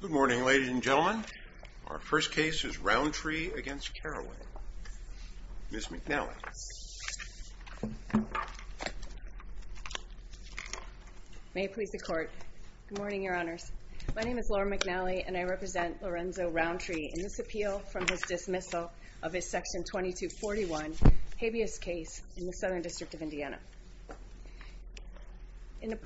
Good morning ladies and gentlemen. Our first case is Roundtree against Caraway. Ms. McNally. May it please the court. Good morning your honors. My name is Laura McNally and I represent Lorenzo Roundtree in this appeal from his dismissal of his section 2241 habeas case in the Southern District of Indiana.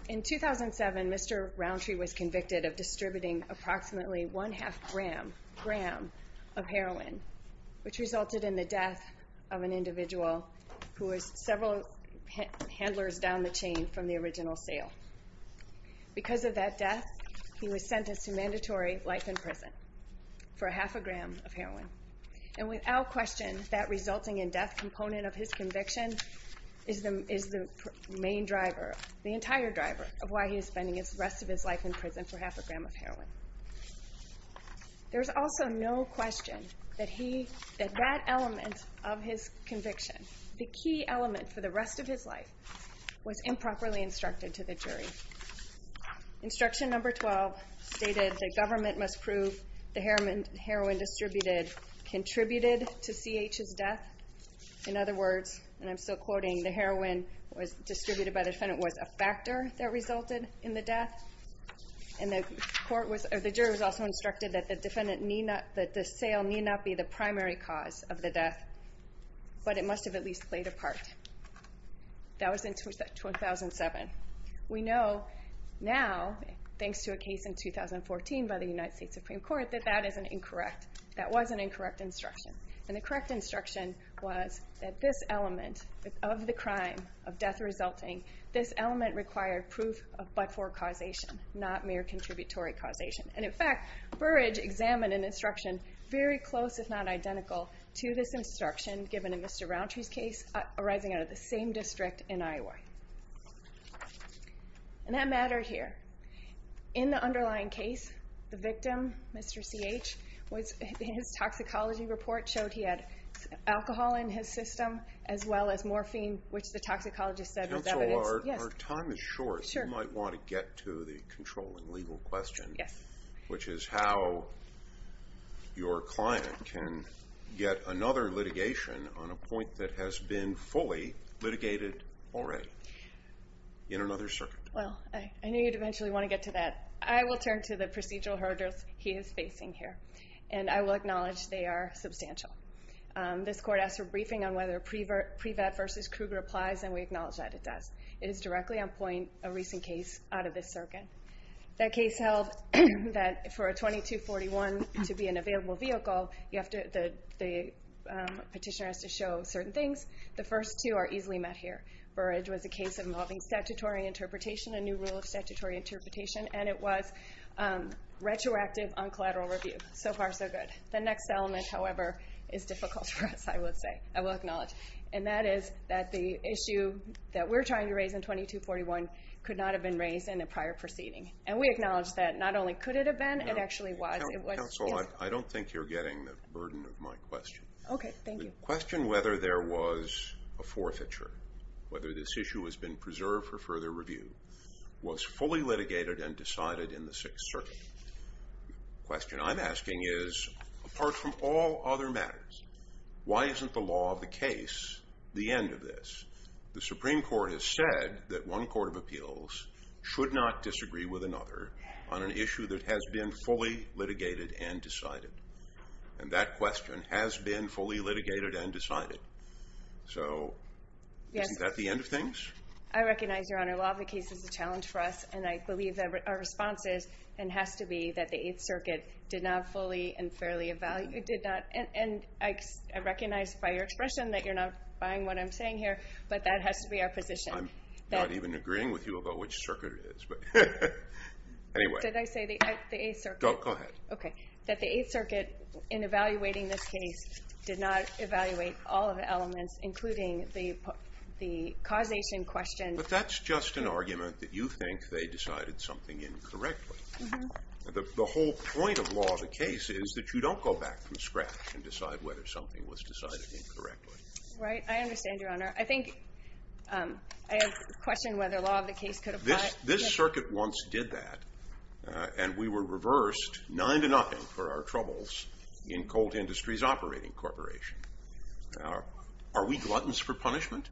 In 2007, Mr. Roundtree was convicted of distributing approximately one-half gram of heroin, which resulted in the death of an individual who was several handlers down the chain from the original sale. Because of that death, he was sentenced to mandatory life in prison for a half a gram of heroin. And without question, that resulting in death component of his conviction is the main driver, the entire driver, of why he is spending the rest of his life in prison for half a gram of heroin. There's also no question that that element of his conviction, the key element for the rest of his life, was improperly instructed to the jury. Instruction number 12 stated the government must prove the heroin distributed contributed to CH's death. In other words, and I'm still quoting, the heroin was distributed by the defendant was a factor that resulted in the death. And the jury was also instructed that the defendant, that the sale need not be the primary cause of the death, but it must have at least played a part. That was in 2007. We know now, thanks to a case in 2014 by the United States Supreme Court, that that is an incorrect, that was an incorrect instruction, was that this element of the crime, of death resulting, this element required proof of but-for causation, not mere contributory causation. And in fact, Burrage examined an instruction very close, if not identical, to this instruction given in Mr. Rountree's case, arising out of the same district in Iowa. And that mattered here. In the underlying case, the victim, Mr. CH, his toxicology report showed he had alcohol in his system, as well as morphine, which the toxicologist said was evidence. Our time is short. You might want to get to the controlling legal question, which is how your client can get another litigation on a point that has been fully litigated already, in another circuit. Well, I knew you'd eventually want to get to that. I will turn to the procedural hurdles he is acknowledging they are substantial. This court asked for a briefing on whether pre-vet versus Kruger applies, and we acknowledge that it does. It is directly on point, a recent case, out of this circuit. That case held that for a 2241 to be an available vehicle, the petitioner has to show certain things. The first two are easily met here. Burrage was a case involving statutory interpretation, a new rule of statutory interpretation, and it was retroactive on collateral review. So far, so good. The next element, however, is difficult for us, I would say, I will acknowledge, and that is that the issue that we're trying to raise in 2241 could not have been raised in the prior proceeding, and we acknowledge that not only could it have been, it actually was. Counsel, I don't think you're getting the burden of my question. Okay, thank you. The question whether there was a forfeiture, whether this issue has been preserved for further review, was fully litigated and decided in the Sixth Circuit. The question I'm asking is, apart from all other matters, why isn't the law of the case the end of this? The Supreme Court has said that one court of appeals should not disagree with another on an issue that has been fully litigated and decided, and that question has been fully litigated and decided. So, isn't that the end of things? I recognize, Your Honor, law of the case, our response is, and has to be, that the Eighth Circuit did not fully and fairly evaluate, did not, and I recognize by your expression that you're not buying what I'm saying here, but that has to be our position. I'm not even agreeing with you about which circuit it is, but anyway. Did I say the Eighth Circuit? Go ahead. Okay, that the Eighth Circuit, in evaluating this case, did not evaluate all of the elements, including the causation question. But that's just an argument that you think they decided something incorrectly. The whole point of law of the case is that you don't go back from scratch and decide whether something was decided incorrectly. Right, I understand, Your Honor. I think, I have a question whether law of the case could apply. This Circuit once did that, and we were reversed nine to nothing for our troubles in Colt Industries Operating Corporation. Are we gluttons for punishment?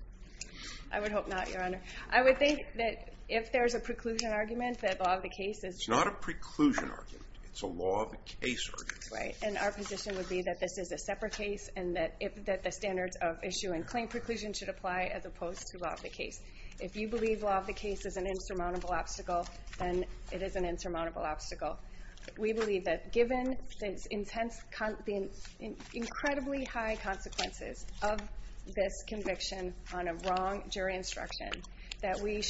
I would hope not, Your Honor. I would think that if there's a preclusion argument, that law of the case is... It's not a preclusion argument. It's a law of the case argument. Right, and our position would be that this is a separate case, and that the standards of issue and claim preclusion should apply as opposed to law of the case. If you believe law of the case is an insurmountable obstacle, then it is an insurmountable obstacle. We believe that given the intense, the incredibly high consequences of this conviction on a case, that we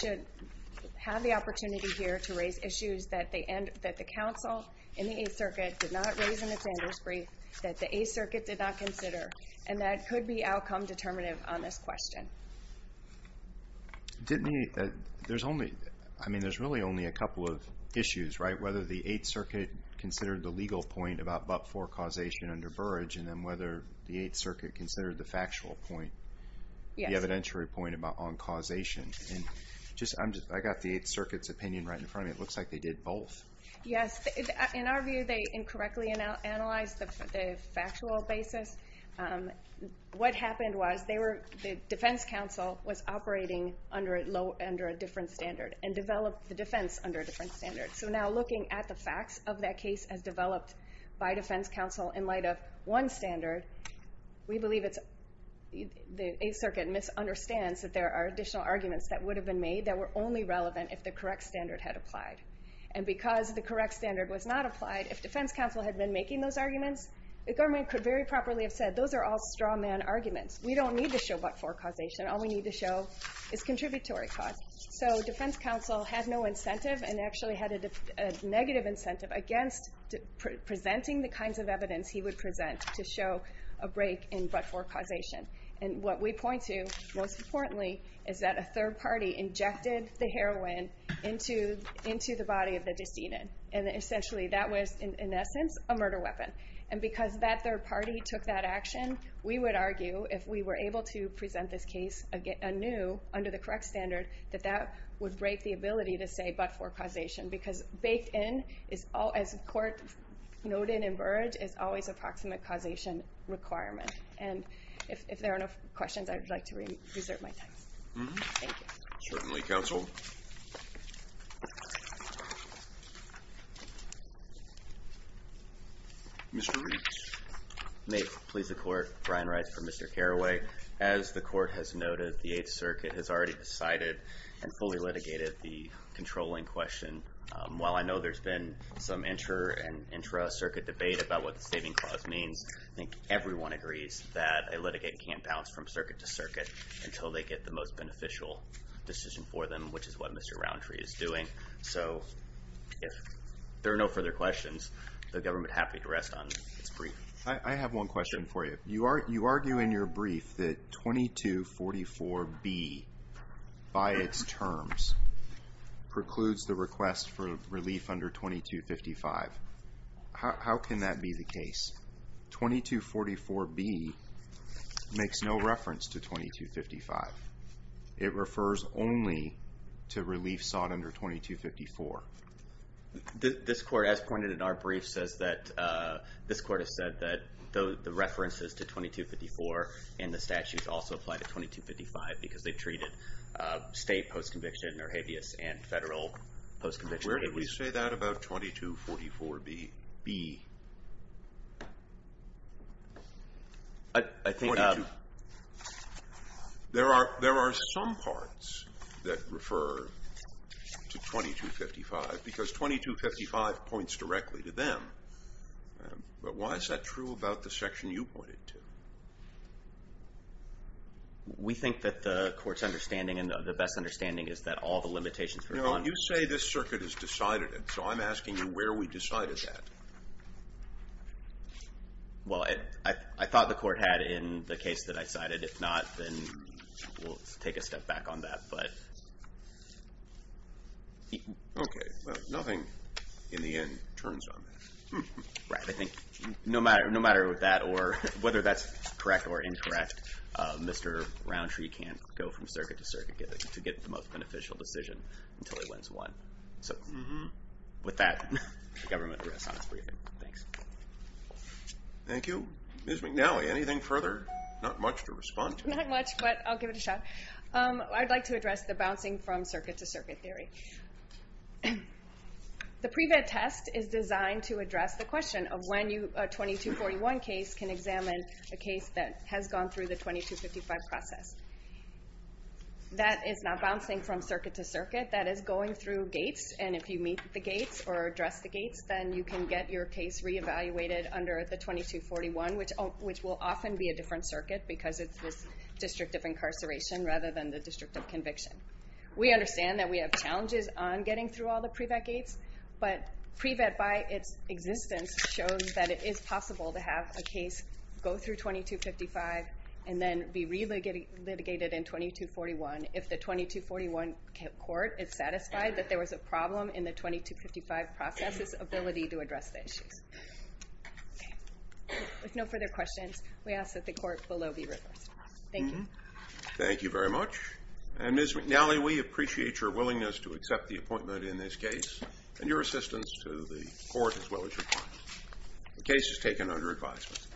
have the opportunity here to raise issues that the Council and the Eighth Circuit did not raise in the standards brief, that the Eighth Circuit did not consider, and that could be outcome determinative on this question. Didn't you... There's only... I mean, there's really only a couple of issues, right? Whether the Eighth Circuit considered the legal point about but-for causation under Burrage, and then whether the Eighth Circuit considered the factual point, the evidentiary point about on causation. And just... I got the Eighth Circuit's opinion right in front of me. It looks like they did both. Yes, in our view, they incorrectly analyzed the factual basis. What happened was, they were... The Defense Council was operating under a different standard, and developed the defense under a different standard. So now, looking at the facts of that case as developed by Defense Council in light of one standard, we believe it's... The Eighth Circuit misunderstands that there are additional arguments that would have been made that were only relevant if the correct standard had applied. And because the correct standard was not applied, if Defense Council had been making those arguments, the government could very properly have said, those are all straw man arguments. We don't need to show but-for causation. All we need to show is contributory cause. So Defense Council had no incentive, and actually had a negative incentive against presenting the kinds of evidence he would present to show a break in but-for causation. And what we point to, most importantly, is that a third party injected the heroin into the body of the decedent. And essentially, that was, in essence, a murder weapon. And because that third party took that action, we would argue, if we were able to present this case anew under the correct standard, that that would break the ability to say but-for causation. Because baked in, as the court noted in Burrage, is always a proximate causation requirement. And if there are no questions, I would like to reserve my time. Thank you. Certainly, counsel. Mr. Reitz. May it please the court, Brian Reitz for Mr. Carraway. As the court has noted, the Eighth Circuit has already decided and fully litigated the controlling question. While I know there's been some inter and intra circuit debate about what the saving clause means, I think everyone agrees that a litigate can't bounce from circuit to circuit until they get the most beneficial decision for them, which is what Mr. Roundtree is doing. So, if there are no further questions, the government happy to rest on its brief. I have one question for you. You argue in your brief that 2244B, by its terms, precludes the request for relief under 2255. How can that be the case? 2244B makes no reference to 2255. It refers only to relief sought under 2254. This court, as pointed in our brief, says that... This court has said that the references to 2254 and the statutes also apply to 2255 because they treated state post conviction or habeas and federal post conviction. Where did we say that about 2244B? I think... There are some parts that refer to 2255 because 2255 points directly to them. But why is that true about the section you pointed to? We think that the court's understanding and the best understanding is that all the limitations... You say this circuit has decided it, so I'm asking you where we decided that. Well, I thought the court had in the case that I cited. If not, then we'll take a step back on that, but... Okay. Well, nothing, in the end, turns on that. Right. I think no matter that or whether that's correct or incorrect, Mr. Roundtree can't go from circuit to circuit to get the most beneficial decision until he wins one. So with that, the government rests on its briefing. Thanks. Thank you. Ms. McNally, anything further? Not much to respond to. Not much, but I'll give it a shot. I'd like to address the bouncing from circuit to circuit theory. The pre-vet test is designed to address the question of when a 2241 case can examine a case that has gone through the 2255 process. That is not bouncing from circuit to circuit. That is going through gates, and if you meet the gates or address the gates, then you can get your case re evaluated under the 2241, which will often be a different circuit because it's this district of incarceration rather than the district of conviction. We understand that we have challenges on getting through all the pre-vet gates, but pre-vet by its existence shows that it is possible to have a 2255 and then be re-litigated in 2241 if the 2241 court is satisfied that there was a problem in the 2255 process's ability to address the issues. With no further questions, we ask that the court below be reversed. Thank you. Thank you very much. And Ms. McNally, we appreciate your willingness to accept the appointment in this case and your assistance to the court as well as your clients. The case is taken under advisement.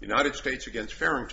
United States against Farrington.